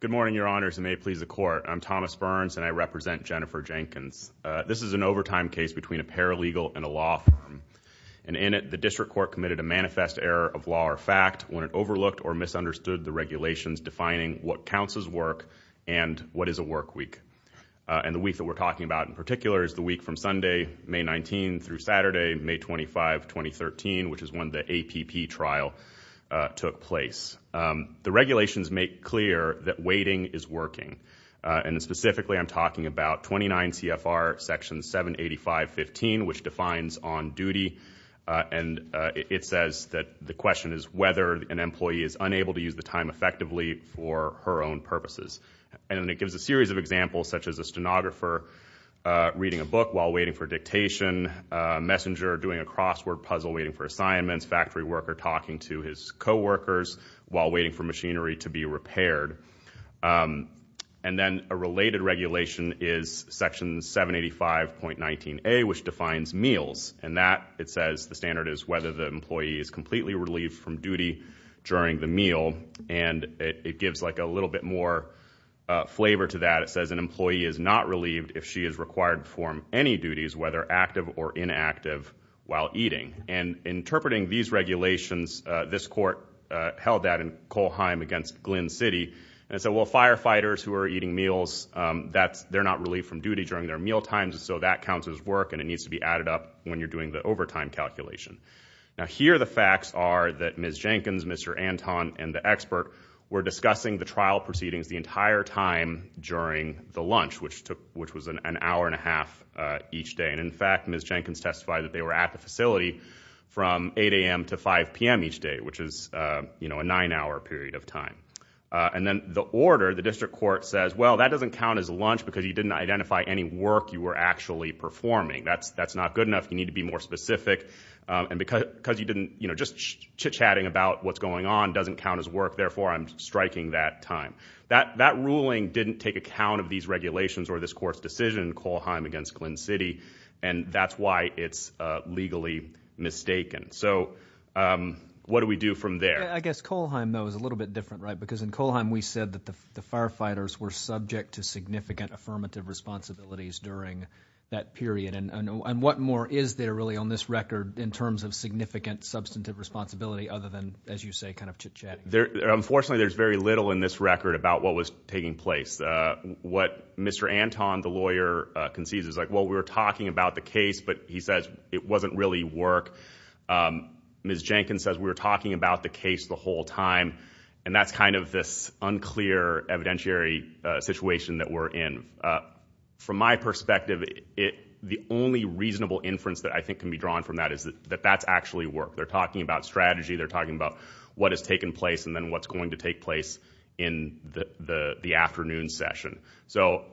Good morning, Your Honors, and may it please the Court, I'm Thomas Burns, and I represent Jennifer Jenkins. This is an overtime case between a paralegal and a law firm, and in it, the District Court committed a manifest error of law or fact when it overlooked or misunderstood the regulations defining what counts as work and what is a work week, and the week that we're talking about in particular is the week from Sunday, May 19, through Saturday, May 25, 2013, which is when the APP trial took place. The regulations make clear that waiting is working, and specifically, I'm talking about 29 CFR Section 785.15, which defines on duty, and it says that the question is whether an And it gives a series of examples, such as a stenographer reading a book while waiting for dictation, a messenger doing a crossword puzzle waiting for assignments, factory worker talking to his coworkers while waiting for machinery to be repaired. And then a related regulation is Section 785.19A, which defines meals, and that, it says, the standard is whether the employee is completely relieved from duty during the meal, and it gives, like, a little bit more flavor to that. It says an employee is not relieved if she is required to perform any duties, whether active or inactive, while eating. And interpreting these regulations, this court held that in Kohlheim against Glynn City, and said, well, firefighters who are eating meals, they're not relieved from duty during their mealtimes, so that counts as work, and it needs to be added up when you're doing the overtime calculation. Now, here the facts are that Ms. Jenkins, Mr. Anton, and the expert were discussing the trial proceedings the entire time during the lunch, which was an hour and a half each day. And in fact, Ms. Jenkins testified that they were at the facility from 8 a.m. to 5 p.m. each day, which is, you know, a nine-hour period of time. And then the order, the district court says, well, that doesn't count as lunch because you didn't identify any work you were actually performing. That's not good enough. You need to be more specific. And because you didn't, you know, just chit-chatting about what's going on doesn't count as work, therefore I'm striking that time. That ruling didn't take account of these regulations or this court's decision in Kohlheim against Glynn City, and that's why it's legally mistaken. So what do we do from there? I guess Kohlheim, though, is a little bit different, right? Because in Kohlheim, we said that the firefighters were subject to significant affirmative responsibilities during that period. And what more is there really on this record in terms of significant substantive responsibility other than, as you say, kind of chit-chatting? Unfortunately, there's very little in this record about what was taking place. What Mr. Anton, the lawyer, concedes is like, well, we were talking about the case, but he says it wasn't really work. Ms. Jenkins says we were talking about the case the whole time, and that's kind of this unclear evidentiary situation that we're in. From my perspective, the only reasonable inference that I think can be drawn from that is that that's actually work. They're talking about strategy, they're talking about what has taken place and then what's going to take place in the afternoon session. So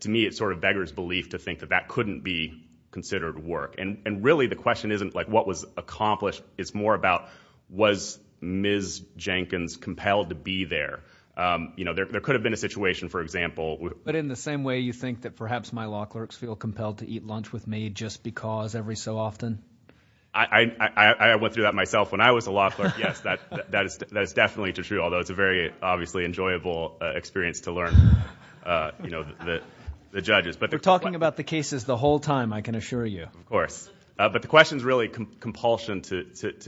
to me, it's sort of beggar's belief to think that that couldn't be considered work. And really, the question isn't like, what was accomplished? It's more about, was Ms. Jenkins compelled to be there? There could have been a situation, for example. But in the same way you think that perhaps my law clerks feel compelled to eat lunch with me just because every so often? I went through that myself. When I was a law clerk, yes, that is definitely true, although it's a very obviously enjoyable experience to learn, you know, the judges. We're talking about the cases the whole time, I can assure you. Of course. But the question is really compulsion to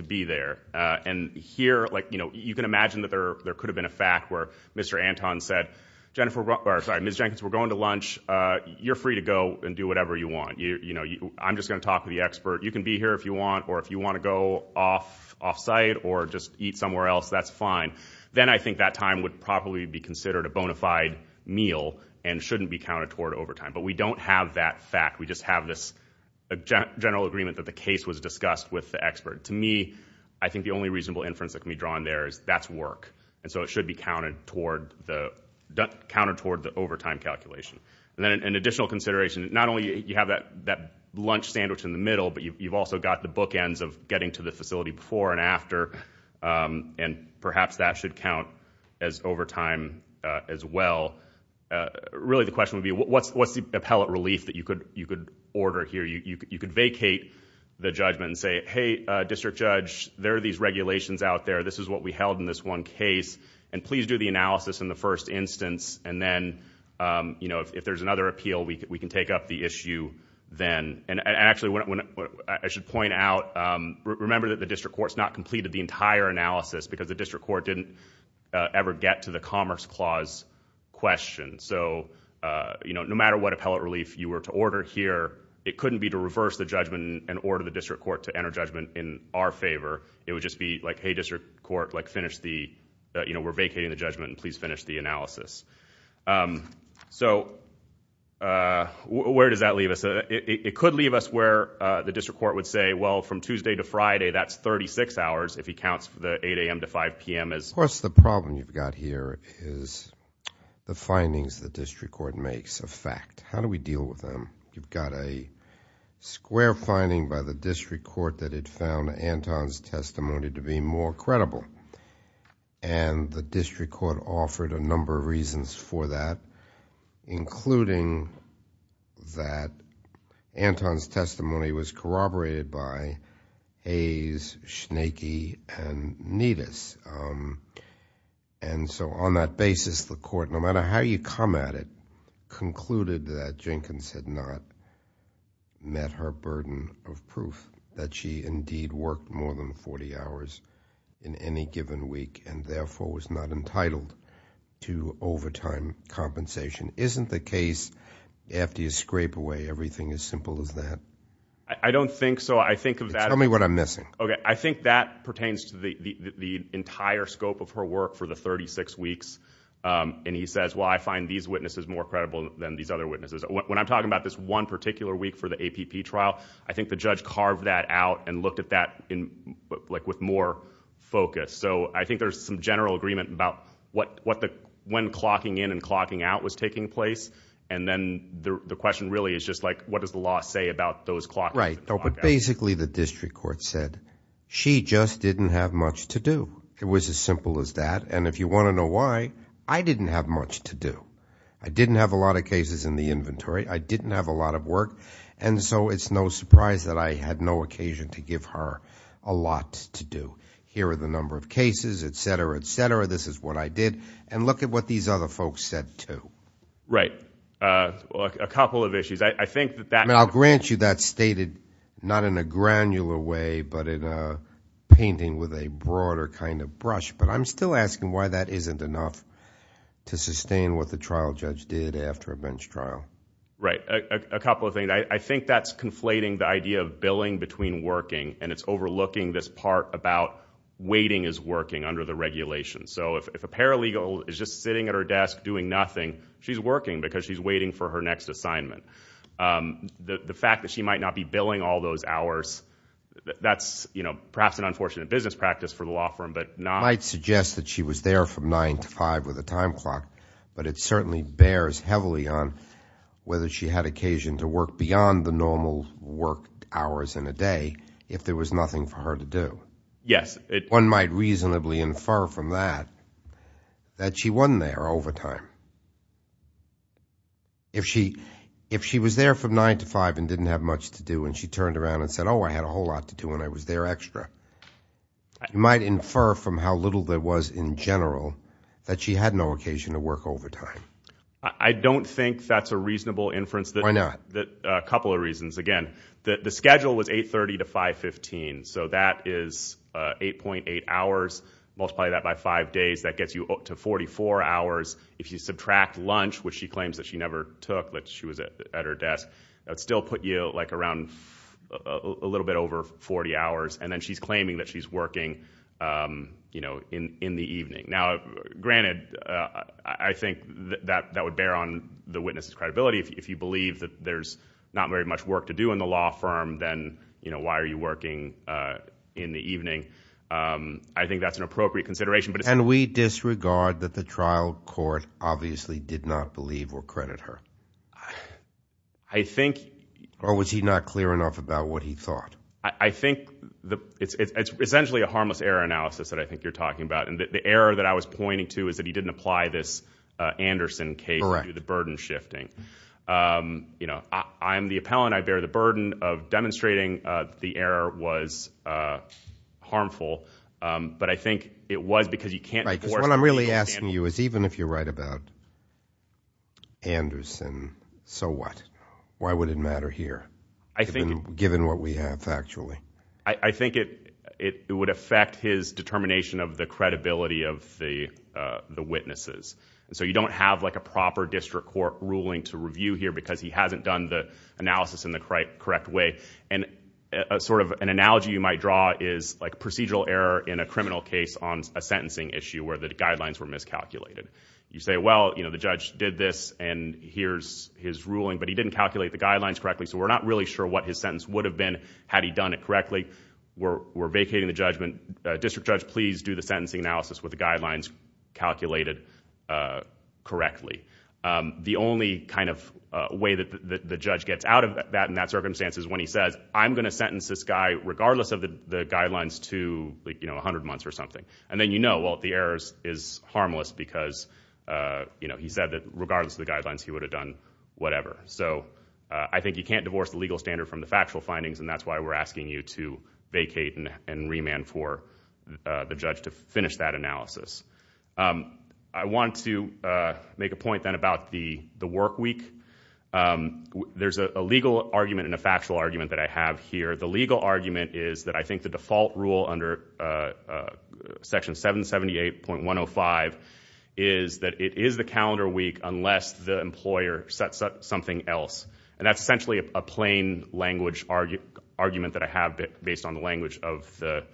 be there. And here, like, you know, you can imagine that there could have been a fact where Mr. Anton said, Ms. Jenkins, we're going to lunch. You're free to go and do whatever you want. I'm just going to talk to the expert. You can be here if you want, or if you want to go off-site or just eat somewhere else, that's fine. Then I think that time would probably be considered a bona fide meal and shouldn't be counted toward overtime. But we don't have that fact. We just have this general agreement that the case was discussed with the expert. To me, I think the only reasonable inference that can be drawn there is that's work. So it should be counted toward the overtime calculation. An additional consideration, not only do you have that lunch sandwich in the middle, but you've also got the bookends of getting to the facility before and after, and perhaps that should count as overtime as well. Really the question would be, what's the appellate relief that you could order here? You could vacate the judgment and say, hey, district judge, there are these regulations out there. This is what we held in this one case, and please do the analysis in the first instance, and then if there's another appeal, we can take up the issue then. Actually, I should point out, remember that the district court's not completed the entire analysis because the district court didn't ever get to the Commerce Clause question. No matter what appellate relief you were to order here, it couldn't be to reverse the judgment and order the district court to enter judgment in our favor. It would just be like, hey, district court, we're vacating the judgment, and please finish the analysis. So where does that leave us? It could leave us where the district court would say, well, from Tuesday to Friday, that's thirty-six hours if he counts the 8 a.m. to 5 p.m. as... Of course, the problem you've got here is the findings the district court makes of fact. How do we deal with them? You've got a square finding by the district court that it found Anton's testimony to be more credible, and the district court offered a number of reasons for that, including that Anton's testimony was corroborated by Hayes, Schneecki, and Nedes, and so on that basis, the court, no matter how you come at it, concluded that Jenkins had not met her burden of proof, that she indeed worked more than 40 hours in any given week, and therefore was not entitled to overtime compensation. Isn't the case, after you scrape away everything as simple as that? I don't think so. I think of that... Tell me what I'm missing. Okay. I think that pertains to the entire scope of her work for the thirty-six weeks, and he says, well, I find these witnesses more credible than these other witnesses. When I'm talking about this one particular week for the APP trial, I think the judge carved that out and looked at that with more focus, so I think there's some general agreement about when clocking in and clocking out was taking place, and then the question really is just what does the law say about those clock... Right. So basically, the district court said she just didn't have much to do. It was as simple as that, and if you want to know why, I didn't have much to do. I didn't have a lot of cases in the inventory. I didn't have a lot of work, and so it's no surprise that I had no occasion to give her a lot to do. Here are the number of cases, et cetera, et cetera. This is what I did, and look at what these other folks said, too. Right. A couple of issues. I think that... Not in a granular way, but in a painting with a broader kind of brush, but I'm still asking why that isn't enough to sustain what the trial judge did after a bench trial. Right. A couple of things. I think that's conflating the idea of billing between working, and it's overlooking this part about waiting is working under the regulations, so if a paralegal is just sitting at her desk doing nothing, she's working because she's waiting for her next assignment. The fact that she might not be billing all those hours, that's perhaps an unfortunate business practice for the law firm, but not... It might suggest that she was there from 9 to 5 with a time clock, but it certainly bears heavily on whether she had occasion to work beyond the normal work hours in a day if there was nothing for her to do. Yes. One might reasonably infer from that that she wasn't there over time. If she was there from 9 to 5 and didn't have much to do, and she turned around and said, oh, I had a whole lot to do, and I was there extra, you might infer from how little there was in general that she had no occasion to work over time. I don't think that's a reasonable inference. Why not? A couple of reasons. Again, the schedule was 8.30 to 5.15, so that is 8.8 hours, multiply that by 5 days, that you subtract lunch, which she claims that she never took, that she was at her desk, that would still put you around a little bit over 40 hours, and then she's claiming that she's working in the evening. Granted, I think that would bear on the witness's credibility. If you believe that there's not very much work to do in the law firm, then why are you working in the evening? I think that's an appropriate consideration, but... Can we disregard that the trial court obviously did not believe or credit her? I think... Or was he not clear enough about what he thought? I think it's essentially a harmless error analysis that I think you're talking about. The error that I was pointing to is that he didn't apply this Anderson case to the burden shifting. I'm the appellant, I bear the burden of demonstrating the error was harmful, but I think it was because you can't... What I'm really asking you is even if you're right about Anderson, so what? Why would it matter here, given what we have factually? I think it would affect his determination of the credibility of the witnesses. You don't have a proper district court ruling to review here because he hasn't done the analysis in the correct way. An analogy you might draw is procedural error in a criminal case on a sentencing issue where the guidelines were miscalculated. You say, well, the judge did this and here's his ruling, but he didn't calculate the guidelines correctly so we're not really sure what his sentence would have been had he done it correctly. We're vacating the judgment. District judge, please do the sentencing analysis with the guidelines calculated correctly. The only way that the judge gets out of that in that circumstance is when he says, I'm going to sentence this guy regardless of the guidelines to 100 months or something. Then you know, well, the error is harmless because he said that regardless of the guidelines he would have done whatever. I think you can't divorce the legal standard from the factual findings and that's why we're asking you to vacate and remand for the judge to finish that analysis. I want to make a point then about the work week. There's a legal argument and a factual argument that I have here. The legal argument is that I think the default rule under section 778.105 is that it is the calendar week unless the employer sets up something else. That's essentially a plain language argument that I have based on the language of the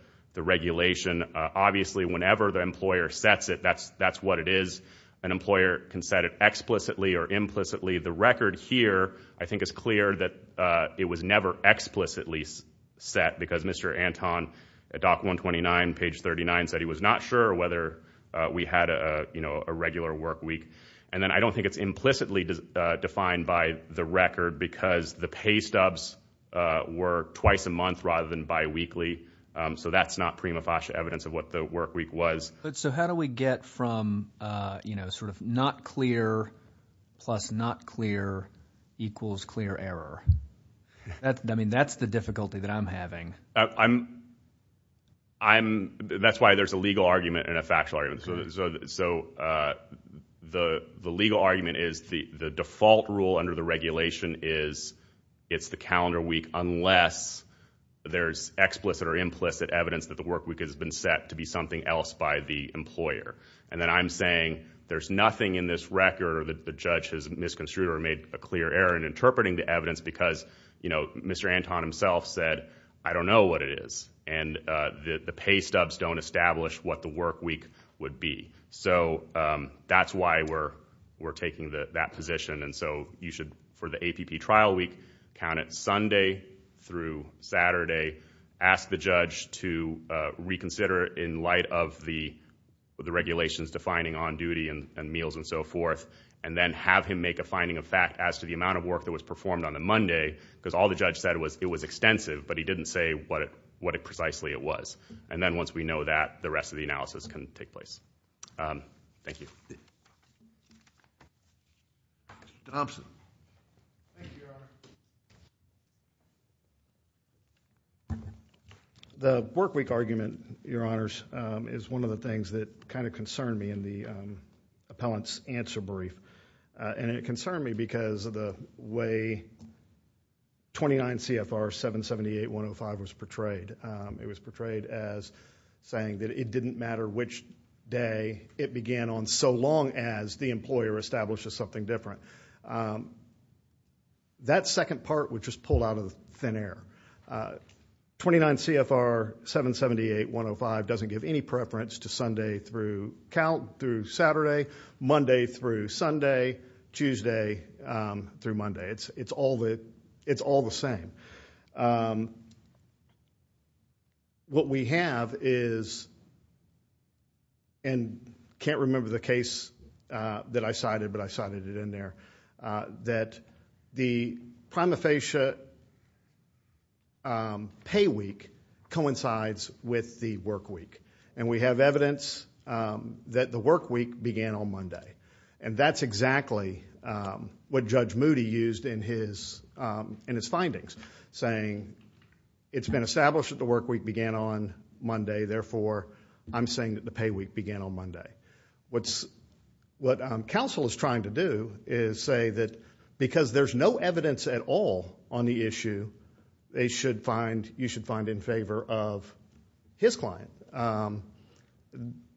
regulation. Obviously, whenever the employer sets it, that's what it is. An employer can set it explicitly or implicitly. The record here I think is clear that it was never explicitly set because Mr. Anton at doc 129 page 39 said he was not sure whether we had a regular work week. I don't think it's implicitly defined by the record because the pay stubs were twice a So how do we get from not clear plus not clear equals clear error? That's the difficulty that I'm having. That's why there's a legal argument and a factual argument. The legal argument is the default rule under the regulation is it's the calendar week unless there's explicit or implicit evidence that the work week has been set to be something else by the employer. And then I'm saying there's nothing in this record or the judge has misconstrued or made a clear error in interpreting the evidence because Mr. Anton himself said, I don't know what it is. And the pay stubs don't establish what the work week would be. So that's why we're taking that position. And so you should, for the APP trial week, count it Sunday through Saturday. Ask the judge to reconsider in light of the regulations defining on duty and meals and so forth. And then have him make a finding of fact as to the amount of work that was performed on the Monday, because all the judge said was it was extensive, but he didn't say what it precisely it was. And then once we know that, the rest of the analysis can take place. Thank you. Denobson. The work week argument, your honors, is one of the things that kind of concerned me in the appellant's answer brief. And it concerned me because of the way 29 CFR 778-105 was portrayed. It was portrayed as saying that it didn't matter which day it began on, so long as the employer establishes something different. That second part would just pull out of thin air. 29 CFR 778-105 doesn't give any preference to Sunday through Saturday, Monday through Sunday, Tuesday through Monday. It's all the same. What we have is, and I can't remember the case that I cited, but I cited it in there, that the prima facie pay week coincides with the work week. And we have evidence that the work week began on Monday. And that's exactly what Judge Moody used in his findings, saying it's been established that the work week began on Monday. Therefore, I'm saying that the pay week began on Monday. What counsel is trying to do is say that because there's no evidence at all on the issue, they should find, you should find in favor of his client.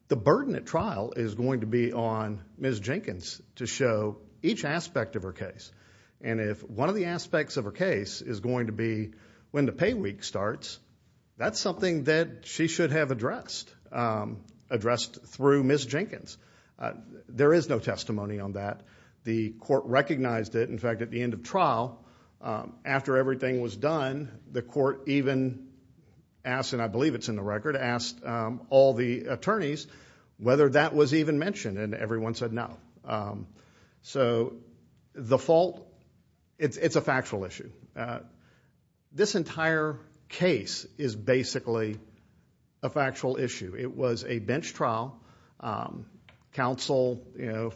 The burden at trial is going to be on Ms. Jenkins to show each aspect of her case. And if one of the aspects of her case is going to be when the pay week starts, that's something that she should have addressed, addressed through Ms. Jenkins. There is no testimony on that. The court recognized it. In fact, at the end of trial, after everything was done, the court even asked, and I believe it's in the record, asked all the attorneys whether that was even mentioned. And everyone said no. So the fault, it's a factual issue. This entire case is basically a factual issue. It was a bench trial. Counsel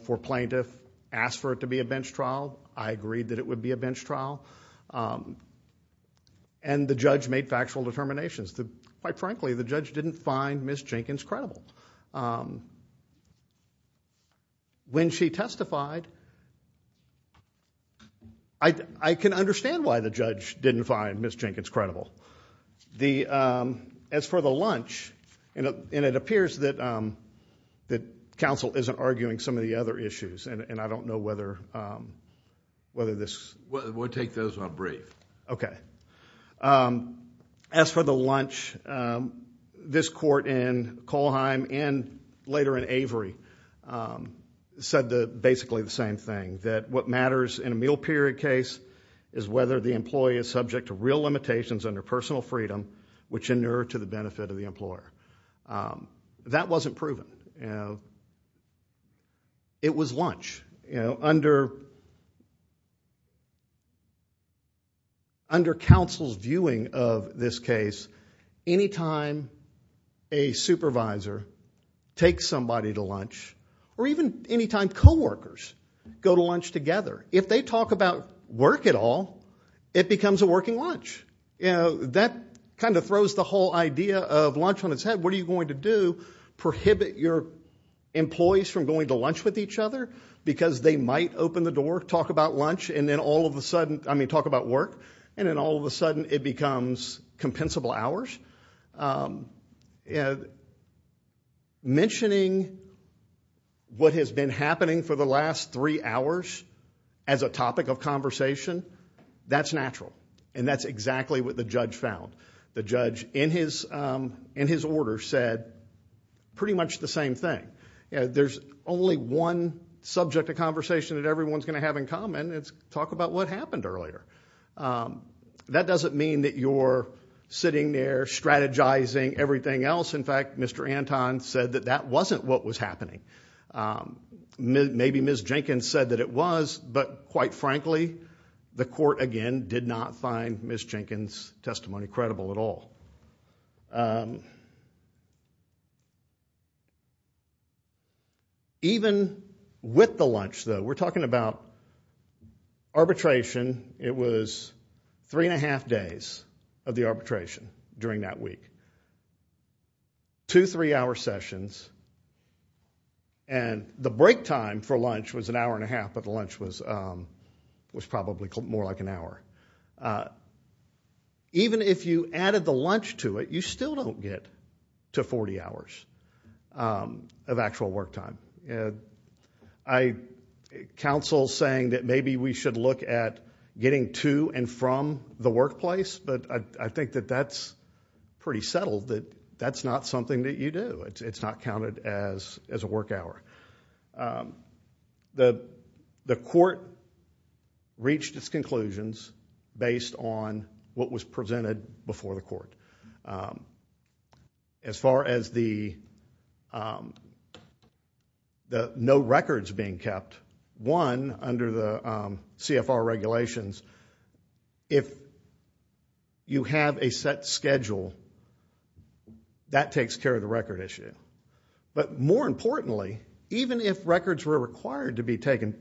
for plaintiff asked for it to be a bench trial. I agreed that it would be a bench trial. And the judge made factual determinations. Quite frankly, the judge didn't find Ms. Jenkins credible. When she testified, I can understand why the judge didn't find Ms. Jenkins credible. As for the lunch, and it appears that counsel isn't arguing some of the other issues, and I don't know whether this. We'll take those on break. OK. As for the lunch, this court in Kohlheim and later in Avery said basically the same thing, that what matters in a meal period case is whether the employee is subject to real limitations under personal freedom, which inure to the benefit of the employer. That wasn't proven. It was lunch. Under counsel's viewing of this case, any time a supervisor takes somebody to lunch, or even any time coworkers go to lunch together, if they talk about work at all, it becomes a working lunch. That kind of throws the whole idea of lunch on its head. What are you going to do? Prohibit your employees from going to lunch with each other? Because they might open the door, talk about work, and then all of a sudden it becomes compensable hours. Mentioning what has been happening for the last three hours as a topic of conversation, that's natural, and that's exactly what the judge found. The judge, in his order, said pretty much the same thing. There's only one subject of conversation that everyone's going to have in common, and it's talk about what happened earlier. That doesn't mean that you're sitting there strategizing everything else. In fact, Mr. Anton said that that wasn't what was happening. Maybe Ms. Jenkins said that it was, but quite frankly, the court, again, did not find Ms. Jenkins' testimony credible at all. Even with the lunch, though, we're talking about arbitration. It was three and a half days of the arbitration during that week. Two three-hour sessions. The break time for lunch was an hour and a half, but the lunch was probably more like an hour. Even if you added the lunch to it, you still don't get to 40 hours of actual work time. I counsel saying that maybe we should look at getting to and from the workplace, but I think that that's pretty settled, that that's not something that you do. It's not counted as a work hour. The court reached its conclusions based on what was presented before the court. As far as the no records being kept, one, under the CFR regulations, if you have a set schedule, that takes care of the record issue. But more importantly, even if records were required to be kept,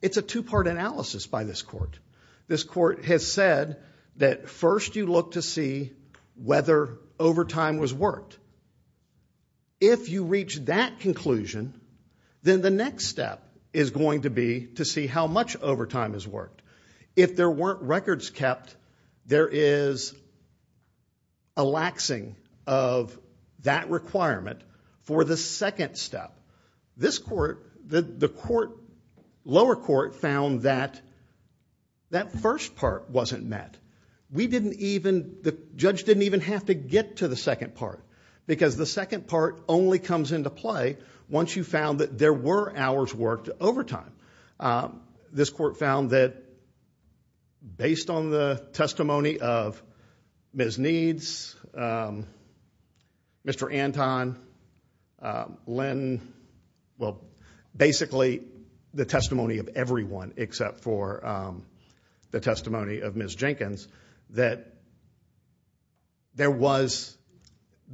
it's a two-part analysis by this court. This court has said that first you look to see whether overtime was worked. If you reach that conclusion, then the next step is going to be to see how much overtime is worked. If there weren't records kept, there is a laxing of that requirement for the second step. The lower court found that that first part wasn't met. The judge didn't even have to get to the second part because the second part only comes into play once you found that there were hours worked overtime. This court found that based on the testimony of Ms. Needs, Mr. Anton, Lynn, basically the testimony of everyone except for the testimony of Ms. Jenkins, that there was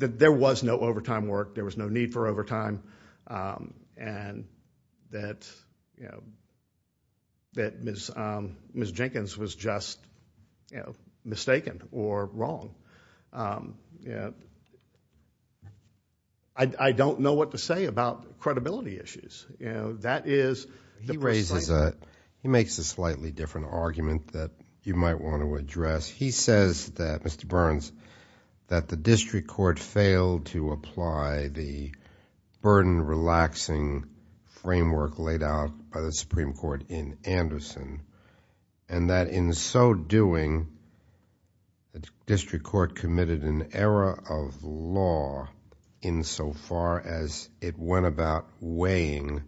no overtime work, there was no need for overtime, and that Ms. Jenkins was just mistaken or wrong. I don't know what to say about credibility issues. That is... He makes a slightly different argument that you might want to address. He says that, Mr. Burns, that the district court failed to apply the burden relaxing framework laid out by the Supreme Court in Anderson, and that in so doing, the district court committed an error of law insofar as it went about weighing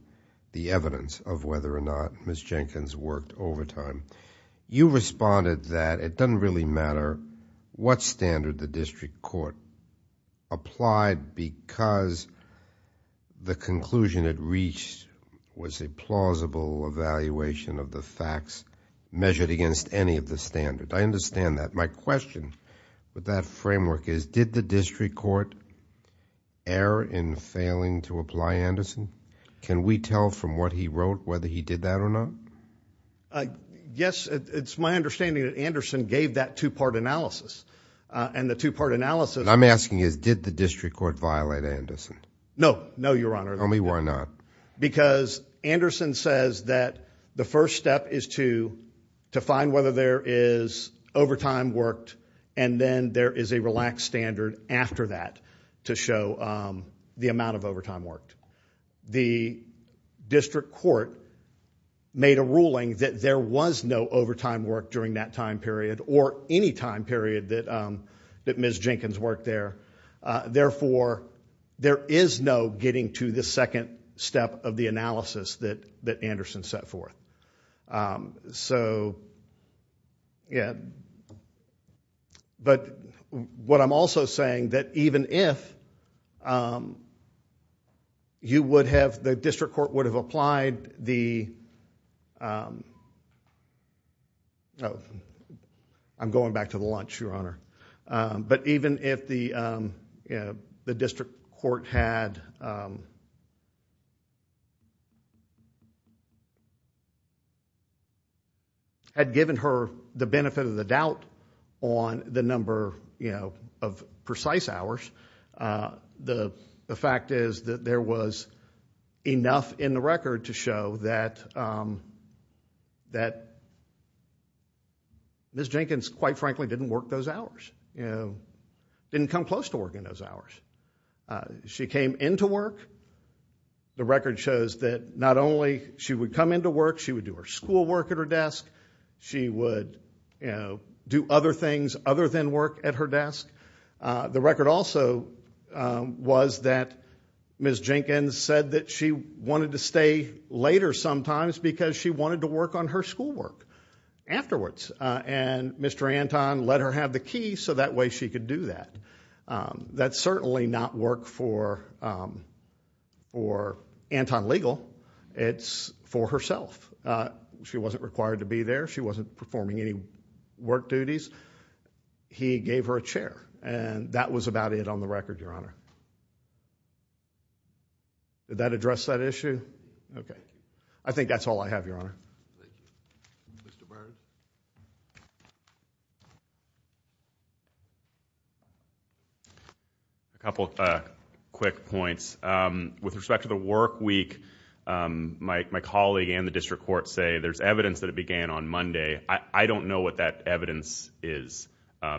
the evidence of whether or not Ms. Jenkins worked overtime. You responded that it doesn't really matter what standard the district court applied because the conclusion it reached was a plausible evaluation of the facts measured against any of the standards. I understand that. My question with that framework is, did the district court err in failing to apply Anderson? Can we tell from what he wrote whether he did that or not? Yes. It's my understanding that Anderson gave that two-part analysis. And the two-part analysis... I'm asking is, did the district court violate Anderson? No. No, Your Honor. Tell me why not. Because Anderson says that the first step is to find whether there is overtime worked and then there is a relaxed standard after that to show the amount of overtime worked. The district court made a ruling that there was no overtime worked during that time period or any time period that Ms. Jenkins worked there. Therefore, there is no getting to the second step of the analysis that Anderson set forth. So, yeah. But what I'm also saying that even if you would have... the district court would have applied the... I'm going back to the lunch, Your Honor. But even if the district court had... had given her the benefit of the doubt on the number of precise hours, the fact is that there was enough in the record to show that Ms. Jenkins, quite frankly, didn't work those hours, didn't come close to working those hours. She came into work. The record shows that not only she would come into work, she would do her schoolwork at her desk. She would do other things other than work at her desk. The record also was that Ms. Jenkins said that she wanted to stay later sometimes because she wanted to work on her schoolwork afterwards. And Mr. Anton let her have the key so that way she could do that. That's certainly not work for Anton Legal. It's for herself. She wasn't required to be there. She wasn't performing any work duties. He gave her a chair. And that was about it on the record, Your Honor. Did that address that issue? I think that's all I have, Your Honor. A couple quick points. With respect to the work week, my colleague and the district court say there's evidence that it began on Monday. I don't know what that evidence is.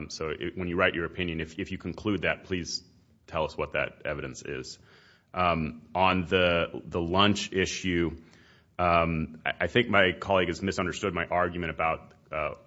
So when you write your opinion, if you conclude that, please tell us what that evidence is. On the lunch issue, I think my colleague has misunderstood my argument about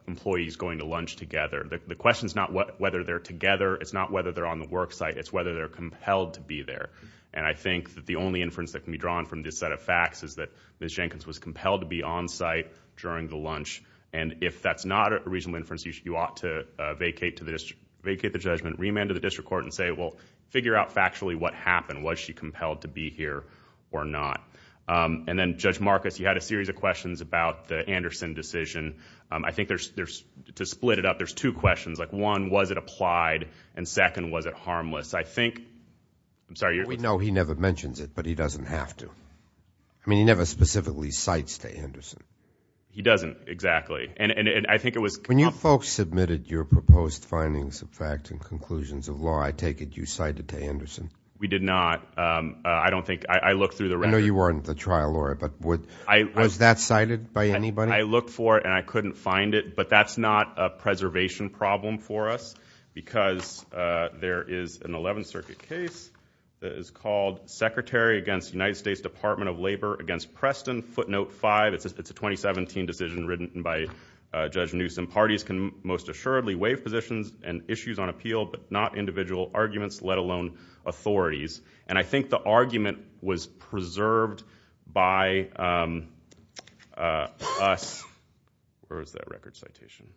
employees going to lunch together. The question is not whether they're together. It's not whether they're on the work site. It's whether they're compelled to be there. And I think that the only inference that can be drawn from this set of facts is that Ms. Jenkins was compelled to be on site during the lunch. And if that's not a reasonable inference, you ought to vacate the judgment, remand to the district court and say, well, figure out factually what happened. Was she compelled to be here or not? And then, Judge Marcus, you had a series of questions about the Anderson decision. I think to split it up, there's two questions. One, was it applied? And second, was it harmless? We know he never mentions it, but he doesn't have to. I mean, he never specifically cites to Anderson. He doesn't, exactly. When you folks submitted your proposed findings of fact and conclusions of law, I take it you cited to Anderson. We did not. I don't think, I looked through the record. I know you weren't the trial lawyer, but was that cited by anybody? I looked for it and I couldn't find it, but that's not a preservation problem for us because there is an 11th Circuit case that is called Secretary against United States Department of Labor against Preston, footnote 5. It's a 2017 decision written by Judge Newsom. Parties can most assuredly waive positions and issues on appeal, but not individual arguments, let alone authorities. And I think the argument was preserved by us. Where is that record citation?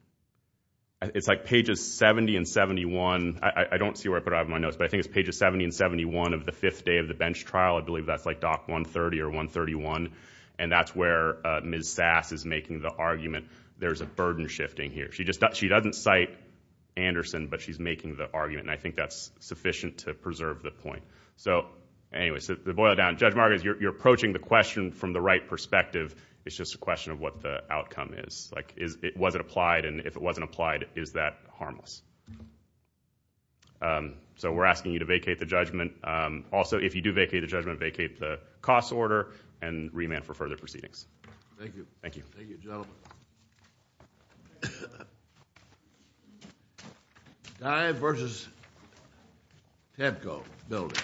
It's like pages 70 and 71. I don't see where I put it out of my notes, but I think it's pages 70 and 71 of the fifth day of the bench trial. I believe that's like Doc 130 or 131. And that's where Ms. Sass is making the argument there's a burden shifting here. She doesn't cite Anderson, but she's making the argument and I think that's sufficient to preserve the point. So, anyway, to boil it down, Judge Margaret, you're approaching the question from the right perspective. It's just a question of what the outcome is. Was it applied? And if it wasn't applied, is that harmless? So we're asking you to vacate the judgment. Also, if you do vacate the judgment, vacate the cost order and remand for further proceedings. Thank you. Thank you, gentlemen. Dye versus Tepco building.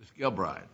Ms. Gilbride.